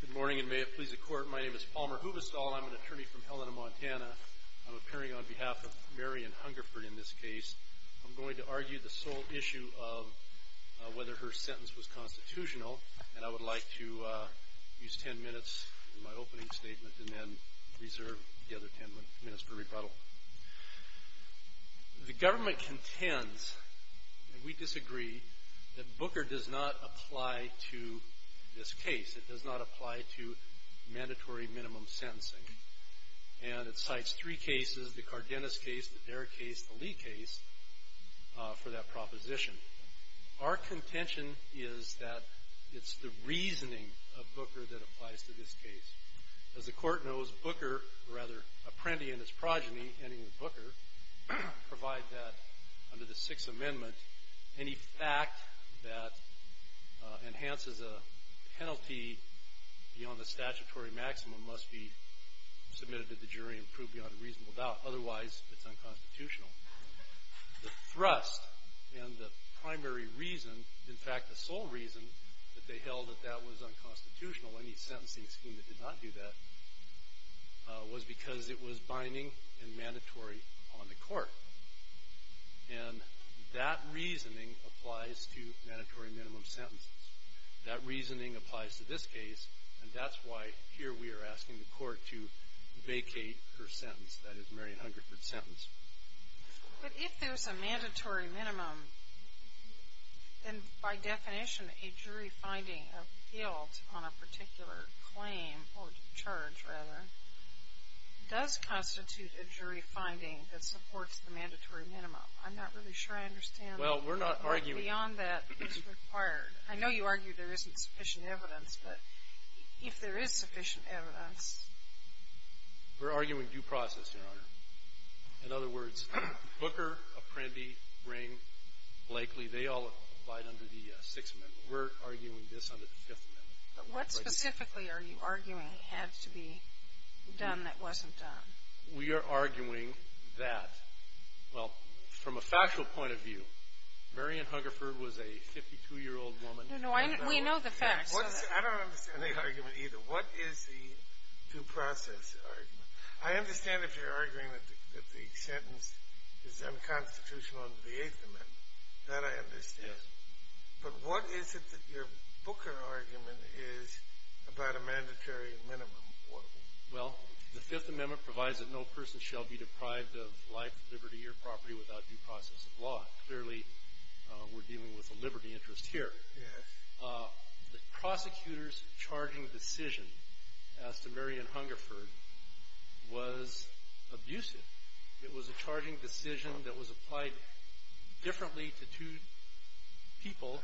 Good morning, and may it please the Court, my name is Palmer Huvestal, and I'm an attorney from Helena, Montana. I'm appearing on behalf of Mary Ann Hungerford in this case. I'm going to argue the sole issue of whether her sentence was constitutional, and I would like to use ten minutes in my opening statement and then reserve the other ten minutes for rebuttal. The government contends, and we disagree, that Booker does not apply to this case. It does not apply to mandatory minimum sentencing. And it cites three cases, the Cardenas case, the Derrick case, the Lee case, for that proposition. Our contention is that it's the reasoning of Booker that applies to this case. As the Court knows, Booker, or rather, Apprendi and his progeny, ending with Booker, provide that, under the Sixth Amendment, any fact that enhances a penalty beyond the statutory maximum must be submitted to the jury and proved beyond a reasonable doubt. Otherwise, it's unconstitutional. The thrust and the primary reason, in fact, the sole reason that they held that that was unconstitutional, any sentencing scheme that did not do that, was because it was binding and mandatory on the Court. And that reasoning applies to mandatory minimum sentences. That reasoning applies to this case, and that's why here we are asking the Court to vacate her sentence, But if there's a mandatory minimum, then, by definition, a jury finding of guilt on a particular claim, or charge, rather, does constitute a jury finding that supports the mandatory minimum. I'm not really sure I understand... Well, we're not arguing... ...beyond that is required. I know you argue there isn't sufficient evidence, but if there is sufficient evidence... We're arguing due process, Your Honor. In other words, Booker, Apprendi, Ring, Blakely, they all abide under the Sixth Amendment. We're arguing this under the Fifth Amendment. But what specifically are you arguing had to be done that wasn't done? We are arguing that, well, from a factual point of view, Marion Hungerford was a 52-year-old woman... No, no. We know the facts. I don't understand the argument either. What is the due process argument? I understand if you're arguing that the sentence is unconstitutional under the Eighth Amendment. That I understand. But what is it that your Booker argument is about a mandatory minimum? Well, the Fifth Amendment provides that no person shall be deprived of life, liberty, or property without due process of law. Clearly, we're dealing with a liberty interest here. Yes. The prosecutor's charging decision as to Marion Hungerford was abusive. It was a charging decision that was applied differently to two people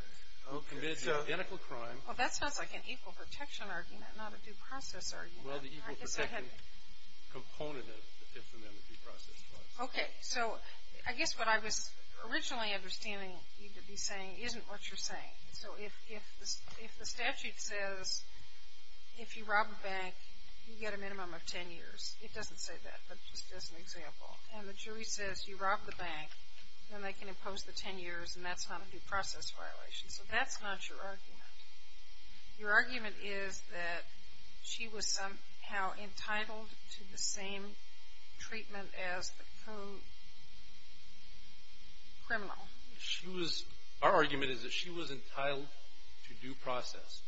who committed the identical crime. Well, that sounds like an equal protection argument, not a due process argument. Well, the equal protection component of the Fifth Amendment due process clause. Okay. So I guess what I was originally understanding you to be saying isn't what you're saying. So if the statute says if you rob a bank, you get a minimum of ten years. It doesn't say that, but just as an example. And the jury says you rob the bank, then they can impose the ten years, and that's not a due process violation. So that's not your argument. Your argument is that she was somehow entitled to the same treatment as the co-criminal. Our argument is that she was entitled to due process.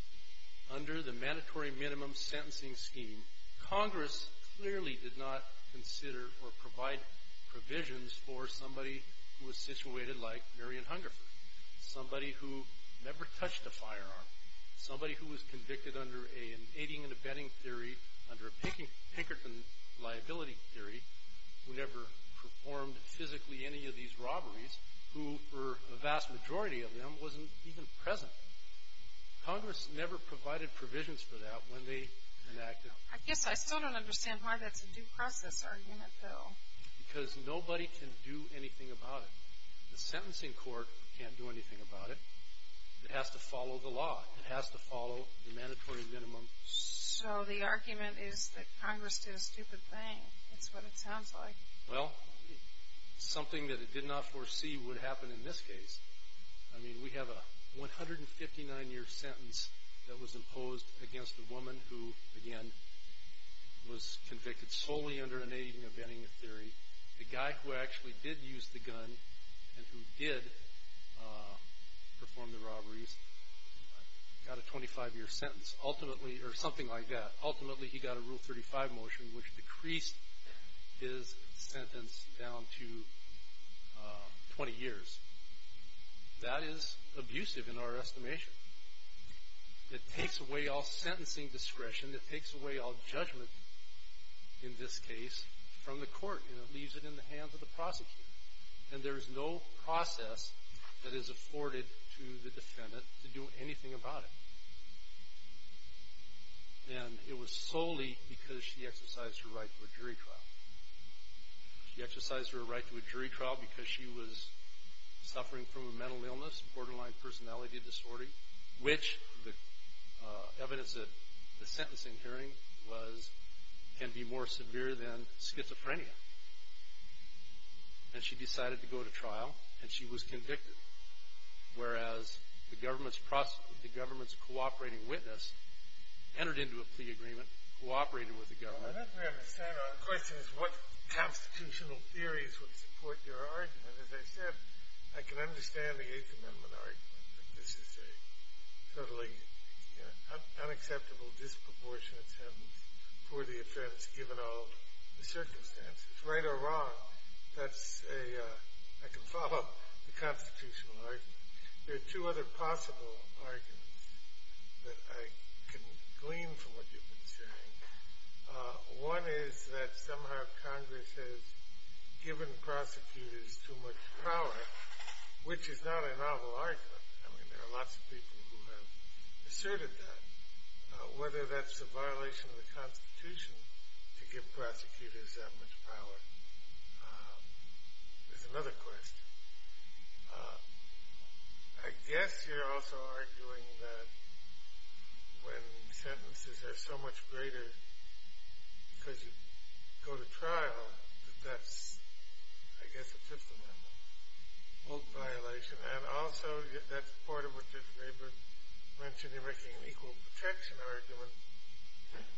Under the mandatory minimum sentencing scheme, Congress clearly did not consider or provide provisions for somebody who was situated like Marion Hungerford, somebody who never touched a firearm, somebody who was convicted under an aiding and abetting theory, under a Pinkerton liability theory, who never performed physically any of these robberies, who, for the vast majority of them, wasn't even present. Congress never provided provisions for that when they enacted it. I guess I still don't understand why that's a due process argument, though. Because nobody can do anything about it. The sentencing court can't do anything about it. It has to follow the law. It has to follow the mandatory minimum. So the argument is that Congress did a stupid thing. That's what it sounds like. Well, something that it did not foresee would happen in this case. I mean, we have a 159-year sentence that was imposed against a woman who, again, was convicted solely under an aiding and abetting theory. The guy who actually did use the gun and who did perform the robberies got a 25-year sentence. Ultimately, or something like that, ultimately he got a Rule 35 motion, which decreased his sentence down to 20 years. That is abusive in our estimation. It takes away all sentencing discretion. It takes away all judgment in this case from the court, and it leaves it in the hands of the prosecutor. And there is no process that is afforded to the defendant to do anything about it. And it was solely because she exercised her right to a jury trial. She exercised her right to a jury trial because she was suffering from a mental illness, a borderline personality disorder, which the evidence at the sentencing hearing was can be more severe than schizophrenia. And she decided to go to trial, and she was convicted, whereas the government's cooperating witness entered into a plea agreement, cooperated with the government. I don't really understand. The question is what constitutional theories would support your argument. As I said, I can understand the Eighth Amendment argument. This is a totally unacceptable disproportionate sentence for the offense, given all the circumstances. Right or wrong, that's a – I can follow up the constitutional argument. There are two other possible arguments that I can glean from what you've been saying. One is that somehow Congress has given prosecutors too much power, which is not a novel argument. I mean, there are lots of people who have asserted that. Whether that's a violation of the Constitution to give prosecutors that much power is another question. I guess you're also arguing that when sentences are so much greater because you go to trial, that that's, I guess, a Fifth Amendment violation. And also, that's part of what you've mentioned, you're making an equal protection argument,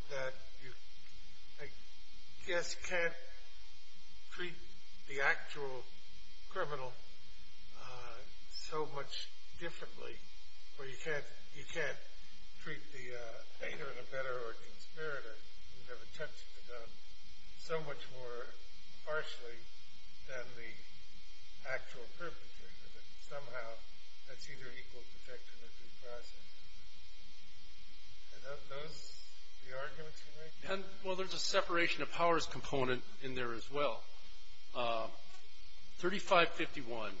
that you, I guess, can't treat the actual criminal so much differently, or you can't treat the hater and abettor or conspirator, you've never touched a gun, so much more harshly than the actual perpetrator, that somehow that's either equal protection or due process. Are those the arguments you're making? Well, there's a separation of powers component in there as well. 3551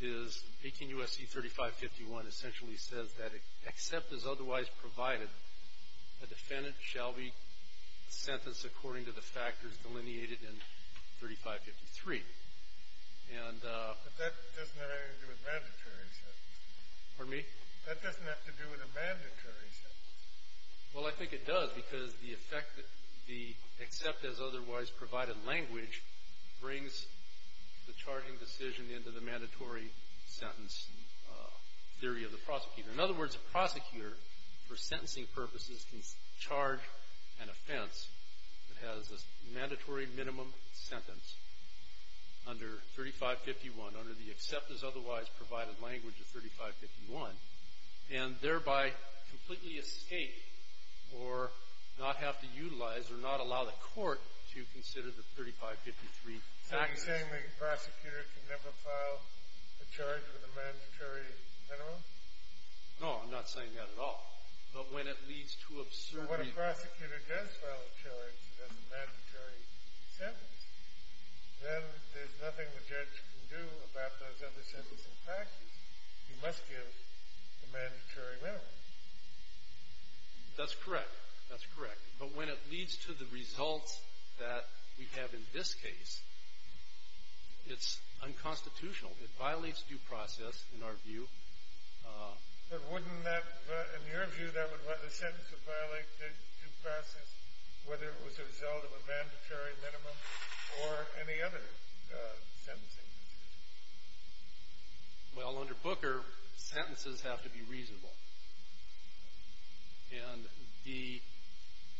is – 18 U.S.C. 3551 essentially says that except as otherwise provided, a defendant shall be sentenced according to the factors delineated in 3553. But that doesn't have anything to do with mandatory acceptance. Pardon me? That doesn't have to do with a mandatory sentence. Well, I think it does because the effect that the except as otherwise provided language brings the charging decision into the mandatory sentence theory of the prosecutor. In other words, a prosecutor, for sentencing purposes, can charge an offense that has a mandatory minimum sentence under 3551, under the except as otherwise provided language of 3551, and thereby completely escape or not have to utilize or not allow the court to consider the 3553 factors. Are you saying the prosecutor can never file a charge with a mandatory minimum? No, I'm not saying that at all. But when it leads to absurdly – But when a prosecutor does file a charge that has a mandatory sentence, then there's nothing the judge can do about those other sentencing factors. He must give a mandatory minimum. That's correct. That's correct. But when it leads to the results that we have in this case, it's unconstitutional. It violates due process, in our view. But wouldn't that – in your view, that would – the sentence would violate due process, whether it was a result of a mandatory minimum or any other sentencing? Well, under Booker, sentences have to be reasonable. And the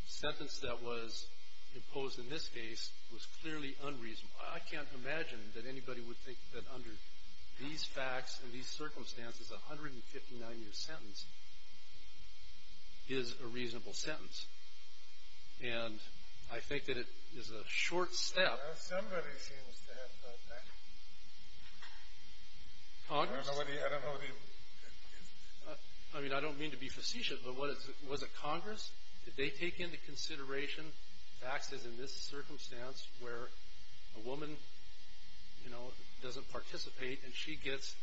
sentence that was imposed in this case was clearly unreasonable. I can't imagine that anybody would think that under these facts and these circumstances, a 159-year sentence is a reasonable sentence. And I think that it is a short step. Somebody seems to have thought that. Congress? I don't know what he – I mean, I don't mean to be facetious, but was it Congress? Did they take into consideration facts as in this circumstance where a woman, you know, doesn't participate and she gets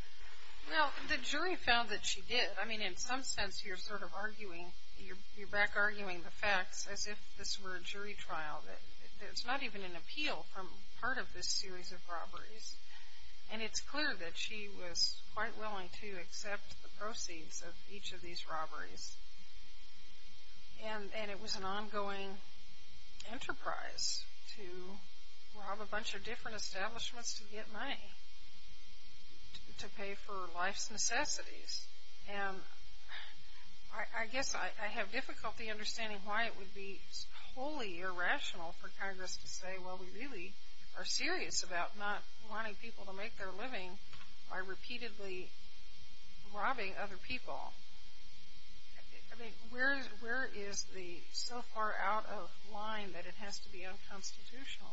– Well, the jury found that she did. I mean, in some sense, you're sort of arguing – you're back-arguing the facts as if this were a jury trial. There's not even an appeal from part of this series of robberies. And it's clear that she was quite willing to accept the proceeds of each of these robberies. And it was an ongoing enterprise to rob a bunch of different establishments to get money to pay for life's necessities. And I guess I have difficulty understanding why it would be wholly irrational for Congress to say, well, we really are serious about not wanting people to make their living by repeatedly robbing other people. I mean, where is the so far out of line that it has to be unconstitutional?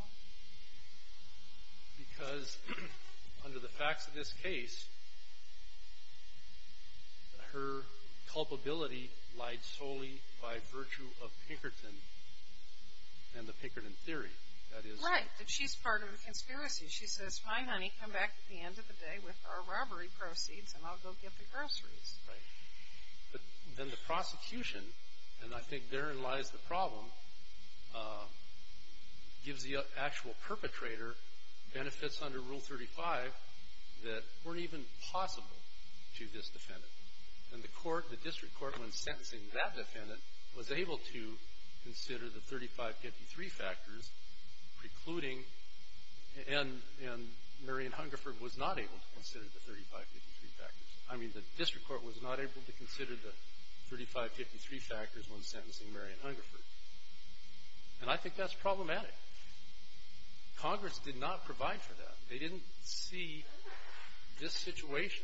Because under the facts of this case, her culpability lied solely by virtue of Pinkerton and the Pinkerton theory. Right. That she's part of the conspiracy. She says, fine, honey, come back at the end of the day with our robbery proceeds, and I'll go get the groceries. Right. But then the prosecution, and I think therein lies the problem, gives the actual perpetrator benefits under Rule 35 that weren't even possible to this defendant. And the court, the district court, when sentencing that defendant, was able to consider the 3553 factors precluding, and Marian Hungerford was not able to consider the 3553 factors. I mean, the district court was not able to consider the 3553 factors when sentencing Marian Hungerford. And I think that's problematic. Congress did not provide for that. They didn't see this situation.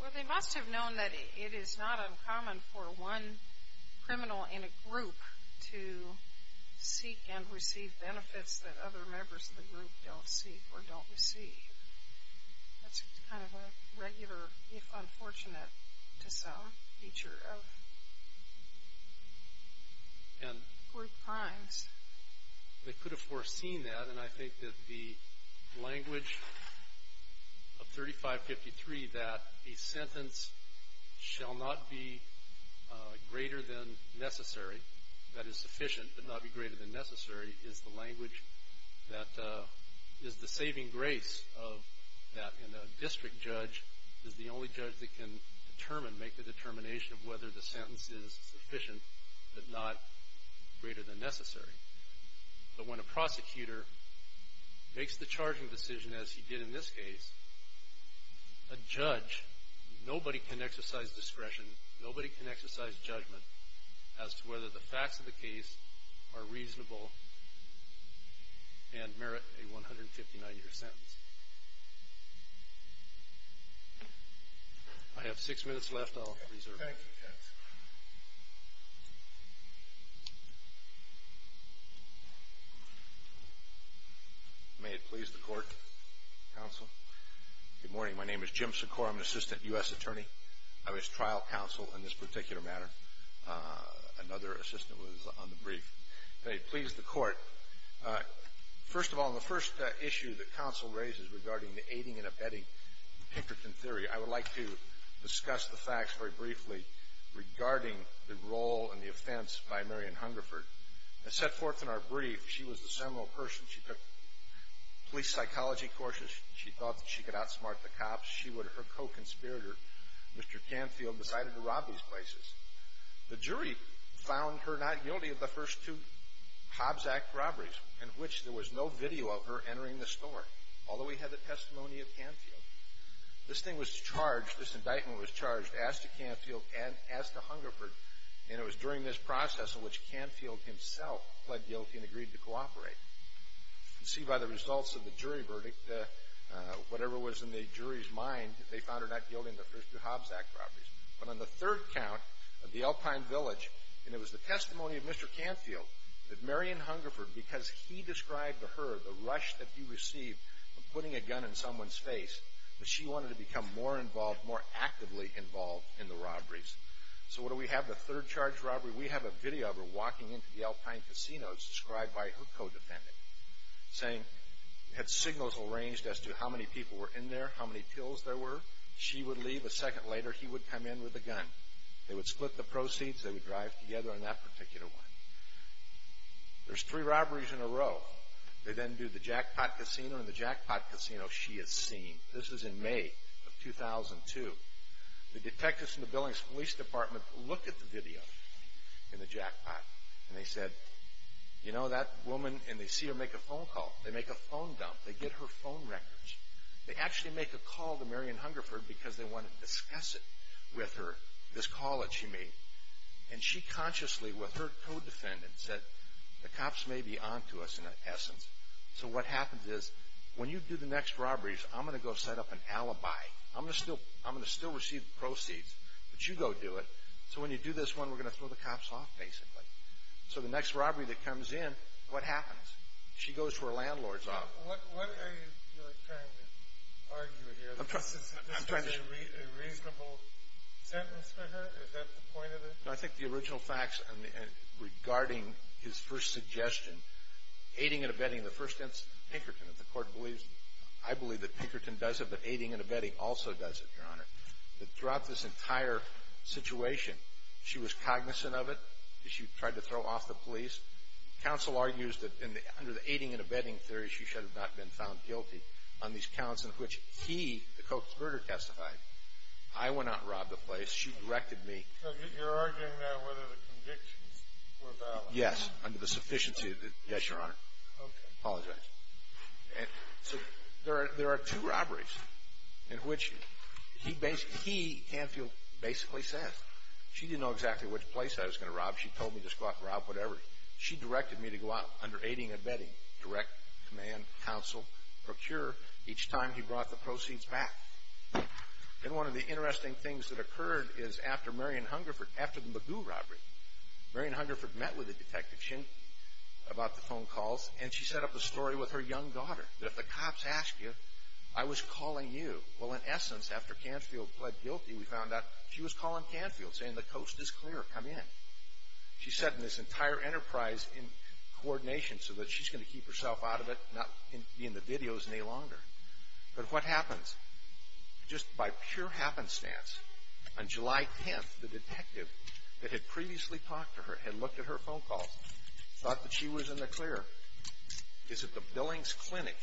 Well, they must have known that it is not uncommon for one criminal in a group to seek and receive benefits that other members of the group don't seek or don't receive. That's kind of a regular, if unfortunate to some, feature of group crimes. They could have foreseen that, and I think that the language of 3553, that a sentence shall not be greater than necessary, that is sufficient, but not be greater than necessary, is the language that is the saving grace of that. And a district judge is the only judge that can determine, make the determination of whether the sentence is sufficient, but not greater than necessary. But when a prosecutor makes the charging decision, as he did in this case, a judge, nobody can exercise discretion, nobody can exercise judgment, as to whether the facts of the case are reasonable and merit a 159-year sentence. I have six minutes left. I'll reserve that. Thank you, counsel. May it please the court, counsel. Good morning. My name is Jim Secor. I'm an assistant U.S. attorney. I was trial counsel in this particular matter. Another assistant was on the brief. May it please the court. First of all, in the first issue that counsel raises regarding the aiding and abetting Pinkerton theory, I would like to discuss the facts very briefly regarding the role and the offense by Marian Hungerford. As set forth in our brief, she was a seminal person. She took police psychology courses. She thought that she could outsmart the cops. Her co-conspirator, Mr. Canfield, decided to rob these places. The jury found her not guilty of the first two Hobbs Act robberies, in which there was no video of her entering the store, although he had the testimony of Canfield. This thing was charged, this indictment was charged, as to Canfield and as to Hungerford, and it was during this process in which Canfield himself pled guilty and agreed to cooperate. You can see by the results of the jury verdict that whatever was in the jury's mind, they found her not guilty in the first two Hobbs Act robberies. But on the third count of the Alpine Village, and it was the testimony of Mr. Canfield, that Marian Hungerford, because he described to her the rush that he received from putting a gun in someone's face, that she wanted to become more involved, more actively involved in the robberies. So what do we have? The third charged robbery, we have a video of her walking into the Alpine Casino, described by her co-defendant, saying it had signals arranged as to how many people were in there, how many pills there were. She would leave. A second later, he would come in with a gun. They would split the proceeds. They would drive together on that particular one. There's three robberies in a row. They then do the Jackpot Casino, and the Jackpot Casino she has seen. This was in May of 2002. The detectives from the Billings Police Department looked at the video in the Jackpot, and they said, you know, that woman, and they see her make a phone call. They make a phone dump. They get her phone records. They actually make a call to Marion Hungerford because they want to discuss it with her, this call that she made. And she consciously, with her co-defendant, said, the cops may be on to us in essence. So what happens is, when you do the next robberies, I'm going to go set up an alibi. I'm going to still receive the proceeds, but you go do it. So when you do this one, we're going to throw the cops off, basically. So the next robbery that comes in, what happens? She goes to her landlord's office. What are you trying to argue here? Is this a reasonable sentence for her? Is that the point of it? No, I think the original facts regarding his first suggestion, aiding and abetting the first instance, Pinkerton, as the Court believes, I believe that Pinkerton does it, but aiding and abetting also does it, Your Honor, that throughout this entire situation, she was cognizant of it. She tried to throw off the police. Counsel argues that under the aiding and abetting theory, she should have not been found guilty on these counts in which he, the co-conspirator, testified. I went out and robbed the place. She directed me. So you're arguing now whether the convictions were valid. Yes, under the sufficiency of the – yes, Your Honor. Okay. Apologize. So there are two robberies in which he basically – he, Canfield, basically says, she didn't know exactly which place I was going to rob. She told me to go out and rob whatever. She directed me to go out under aiding and abetting, direct, command, counsel, procure, each time he brought the proceeds back. And one of the interesting things that occurred is after Marion Hungerford – after the Magoo robbery, Marion Hungerford met with Detective Schinke about the phone calls, and she set up a story with her young daughter that if the cops ask you, I was calling you. Well, in essence, after Canfield pled guilty, we found out she was calling Canfield, saying the coast is clear. Come in. She set this entire enterprise in coordination so that she's going to keep herself out of it, not be in the videos any longer. But what happens? Just by pure happenstance, on July 10th, the detective that had previously talked to her and looked at her phone calls thought that she was in the clear. It's at the Billings Clinic.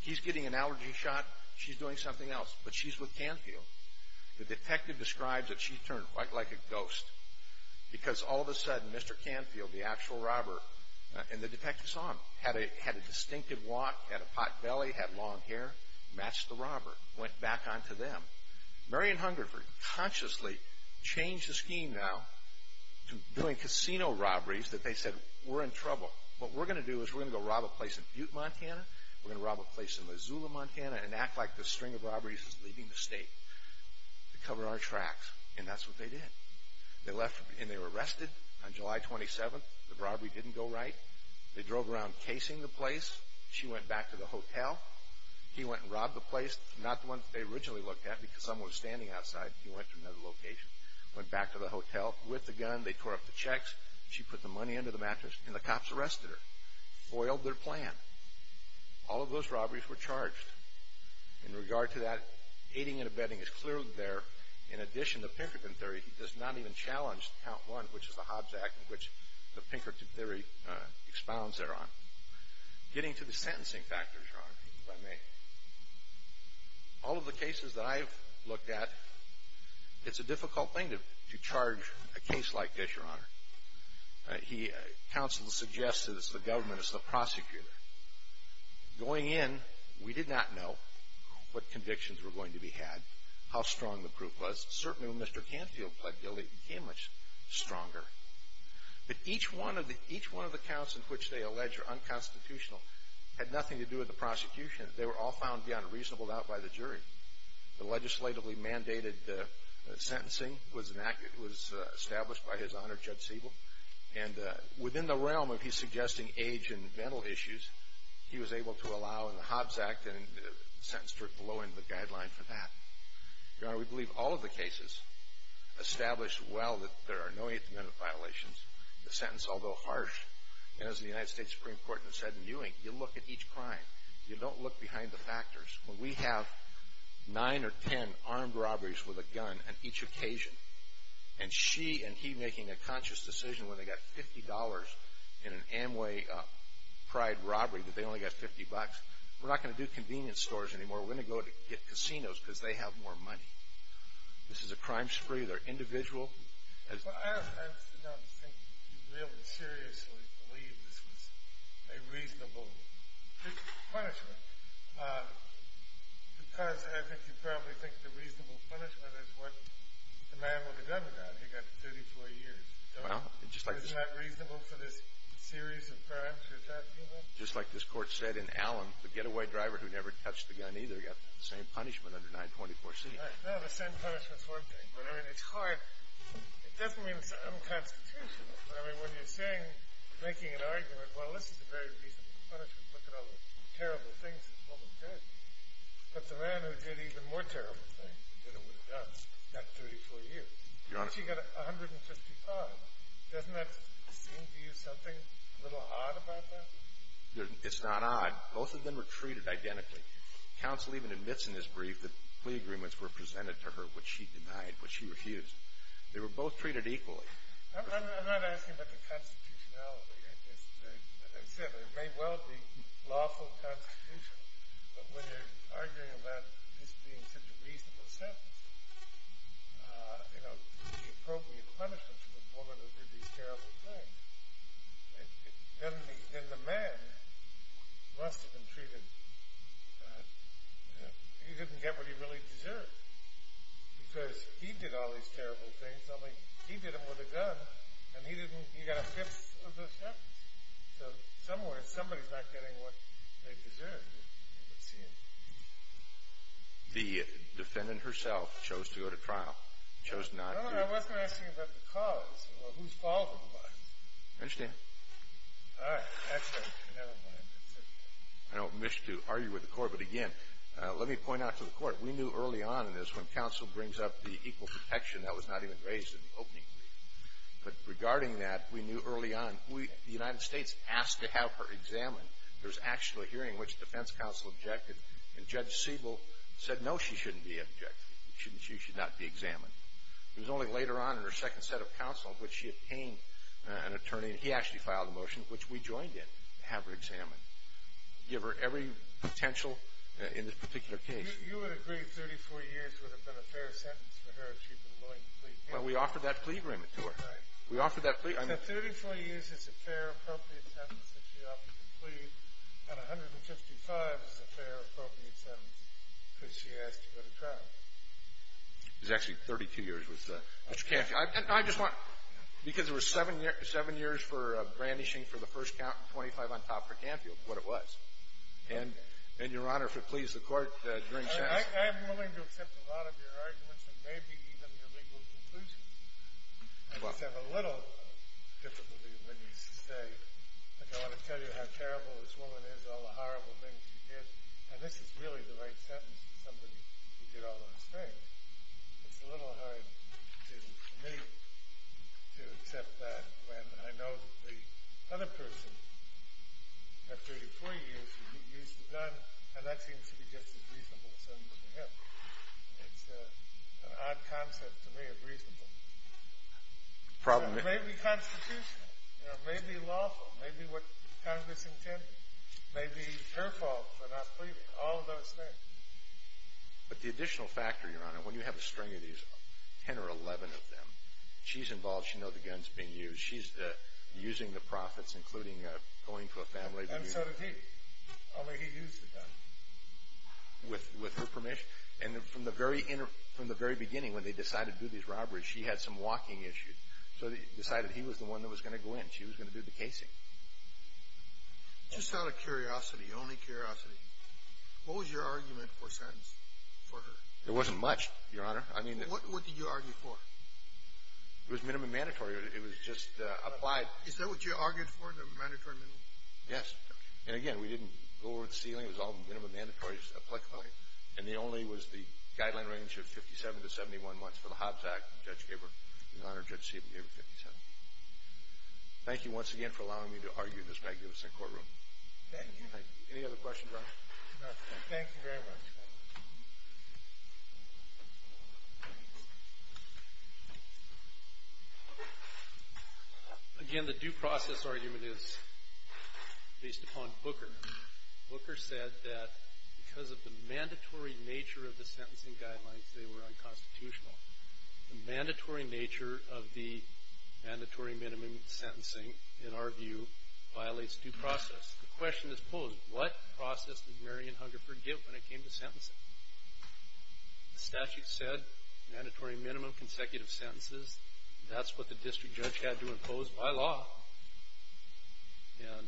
He's getting an allergy shot. She's doing something else. But she's with Canfield. The detective describes that she turned quite like a ghost because all of a sudden, Mr. Canfield, the actual robber, and the detective saw him, had a distinctive walk, had a pot belly, had long hair, matched the robber, went back on to them. Marion Hungerford consciously changed the scheme now to doing casino robberies that they said, we're in trouble. What we're going to do is we're going to go rob a place in Butte, Montana. We're going to rob a place in Missoula, Montana, and act like this string of robberies is leaving the state to cover our tracks. And that's what they did. They left, and they were arrested on July 27th. The robbery didn't go right. They drove around casing the place. She went back to the hotel. He went and robbed the place. Not the one that they originally looked at because someone was standing outside. He went to another location. Went back to the hotel with the gun. They tore up the checks. She put the money under the mattress, and the cops arrested her. Foiled their plan. All of those robberies were charged. In regard to that, aiding and abetting is clearly there. In addition, the Pinkerton theory does not even challenge Count 1, which is the Hobbs Act in which the Pinkerton theory expounds thereon. Getting to the sentencing factors, Your Honor, if I may. All of the cases that I've looked at, it's a difficult thing to charge a case like this, Your Honor. Counsel suggested it's the government. It's the prosecutor. Going in, we did not know what convictions were going to be had, how strong the proof was. Certainly, when Mr. Canfield pled guilty, it became much stronger. But each one of the counts in which they allege are unconstitutional had nothing to do with the prosecution. The legislatively mandated sentencing was established by His Honor, Judge Siebel. And within the realm of his suggesting age and mental issues, he was able to allow in the Hobbs Act and sentence for blowing the guideline for that. Your Honor, we believe all of the cases established well that there are no Eighth Amendment violations. The sentence, although harsh, as the United States Supreme Court has said in Ewing, you look at each crime. You don't look behind the factors. When we have nine or ten armed robberies with a gun on each occasion, and she and he making a conscious decision when they got $50 in an Amway pride robbery that they only got 50 bucks, we're not going to do convenience stores anymore. We're going to go get casinos because they have more money. This is a crime spree. They're individual. I don't think you really seriously believe this was a reasonable punishment because I think you probably think the reasonable punishment is what the man with the gun got. He got 34 years. Isn't that reasonable for this series of crimes you're talking about? Just like this Court said in Allen, the getaway driver who never touched the gun either got the same punishment under 924C. No, the same punishment is one thing. But, I mean, it's hard. It doesn't mean it's unconstitutional. I mean, when you're saying, making an argument, well, this is a very reasonable punishment. Look at all the terrible things this woman did. But the man who did even more terrible things than it would have done, got 34 years. Your Honor. She got 155. Doesn't that seem to you something a little odd about that? It's not odd. Both of them were treated identically. Counsel even admits in his brief that plea agreements were presented to her, which she denied, which she refused. They were both treated equally. I'm not asking about the constitutionality. As I said, it may well be lawful, constitutional. But when you're arguing about this being such a reasonable sentence, you know, the appropriate punishment for the woman who did these terrible things, then the man must have been treated, he didn't get what he really deserved. Because he did all these terrible things. I mean, he did them with a gun. And he didn't, he got a fifth of the sentence. So somewhere, somebody's not getting what they deserve, it would seem. The defendant herself chose to go to trial. Chose not to. No, no, I wasn't asking about the cause or whose fault it was. I understand. All right. Excellent. Never mind. I don't wish to argue with the Court, but again, let me point out to the Court, we knew early on in this when counsel brings up the equal protection, that was not even raised in the opening brief. But regarding that, we knew early on, the United States asked to have her examined. There was actually a hearing in which defense counsel objected, and Judge Siebel said, no, she shouldn't be objected, she should not be examined. It was only later on in her second set of counsel in which she obtained an attorney, and he actually filed a motion which we joined in to have her examined. Give her every potential in this particular case. You would agree 34 years would have been a fair sentence for her if she had been willing to plead? Well, we offered that plea agreement to her. Right. We offered that plea. So 34 years is a fair, appropriate sentence that she offered to plead, and 155 is a fair, appropriate sentence because she asked to go to trial. It was actually 32 years. Mr. Canfield. I just want, because it was seven years for brandishing for the first count, and 25 on top for Canfield, what it was. And, Your Honor, if it pleases the Court, during sentencing. I am willing to accept a lot of your arguments and maybe even your legal conclusions. I just have a little difficulty when you say, like, I want to tell you how terrible this woman is and all the horrible things she did. And this is really the right sentence for somebody who did all those things. It's a little hard for me to accept that when I know that the other person at 34 years used a gun, and that seems to be just as reasonable a sentence to him. It's an odd concept to me of reasonable. Probably. It may be constitutional. It may be lawful. It may be what Congress intended. It may be her fault for not pleading all those things. But the additional factor, Your Honor, when you have a string of these, 10 or 11 of them, she's involved. She knows the gun's being used. She's using the profits, including going to a family reunion. And so did he. Only he used the gun. With her permission. And from the very beginning, when they decided to do these robberies, she had some walking issues. So they decided he was the one that was going to go in. She was going to do the casing. Just out of curiosity, only curiosity, what was your argument for a sentence for her? There wasn't much, Your Honor. What did you argue for? It was minimum mandatory. It was just applied. Is that what you argued for, the mandatory minimum? Yes. And, again, we didn't go over the ceiling. It was all minimum mandatory. It was applicable. And the only was the guideline range of 57 to 71 months for the Hobbs Act. The judge gave her, Your Honor, Judge Siebert gave her 57. Thank you once again for allowing me to argue in this magnificent courtroom. Thank you. Any other questions, Your Honor? No, thank you very much. Again, the due process argument is based upon Booker. Booker said that because of the mandatory nature of the sentencing guidelines, they were unconstitutional. The mandatory nature of the mandatory minimum sentencing, in our view, violates due process. The question is posed, what process did Marion Hungerford give when it came to sentencing? The statute said mandatory minimum consecutive sentences. That's what the district judge had to impose by law. And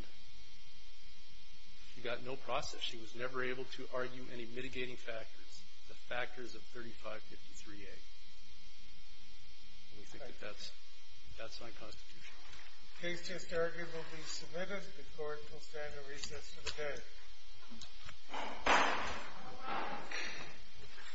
she got no process. She was never able to argue any mitigating factors, the factors of 3553A. And we think that that's unconstitutional. Case just argued will be submitted. The court will stand at recess for the day.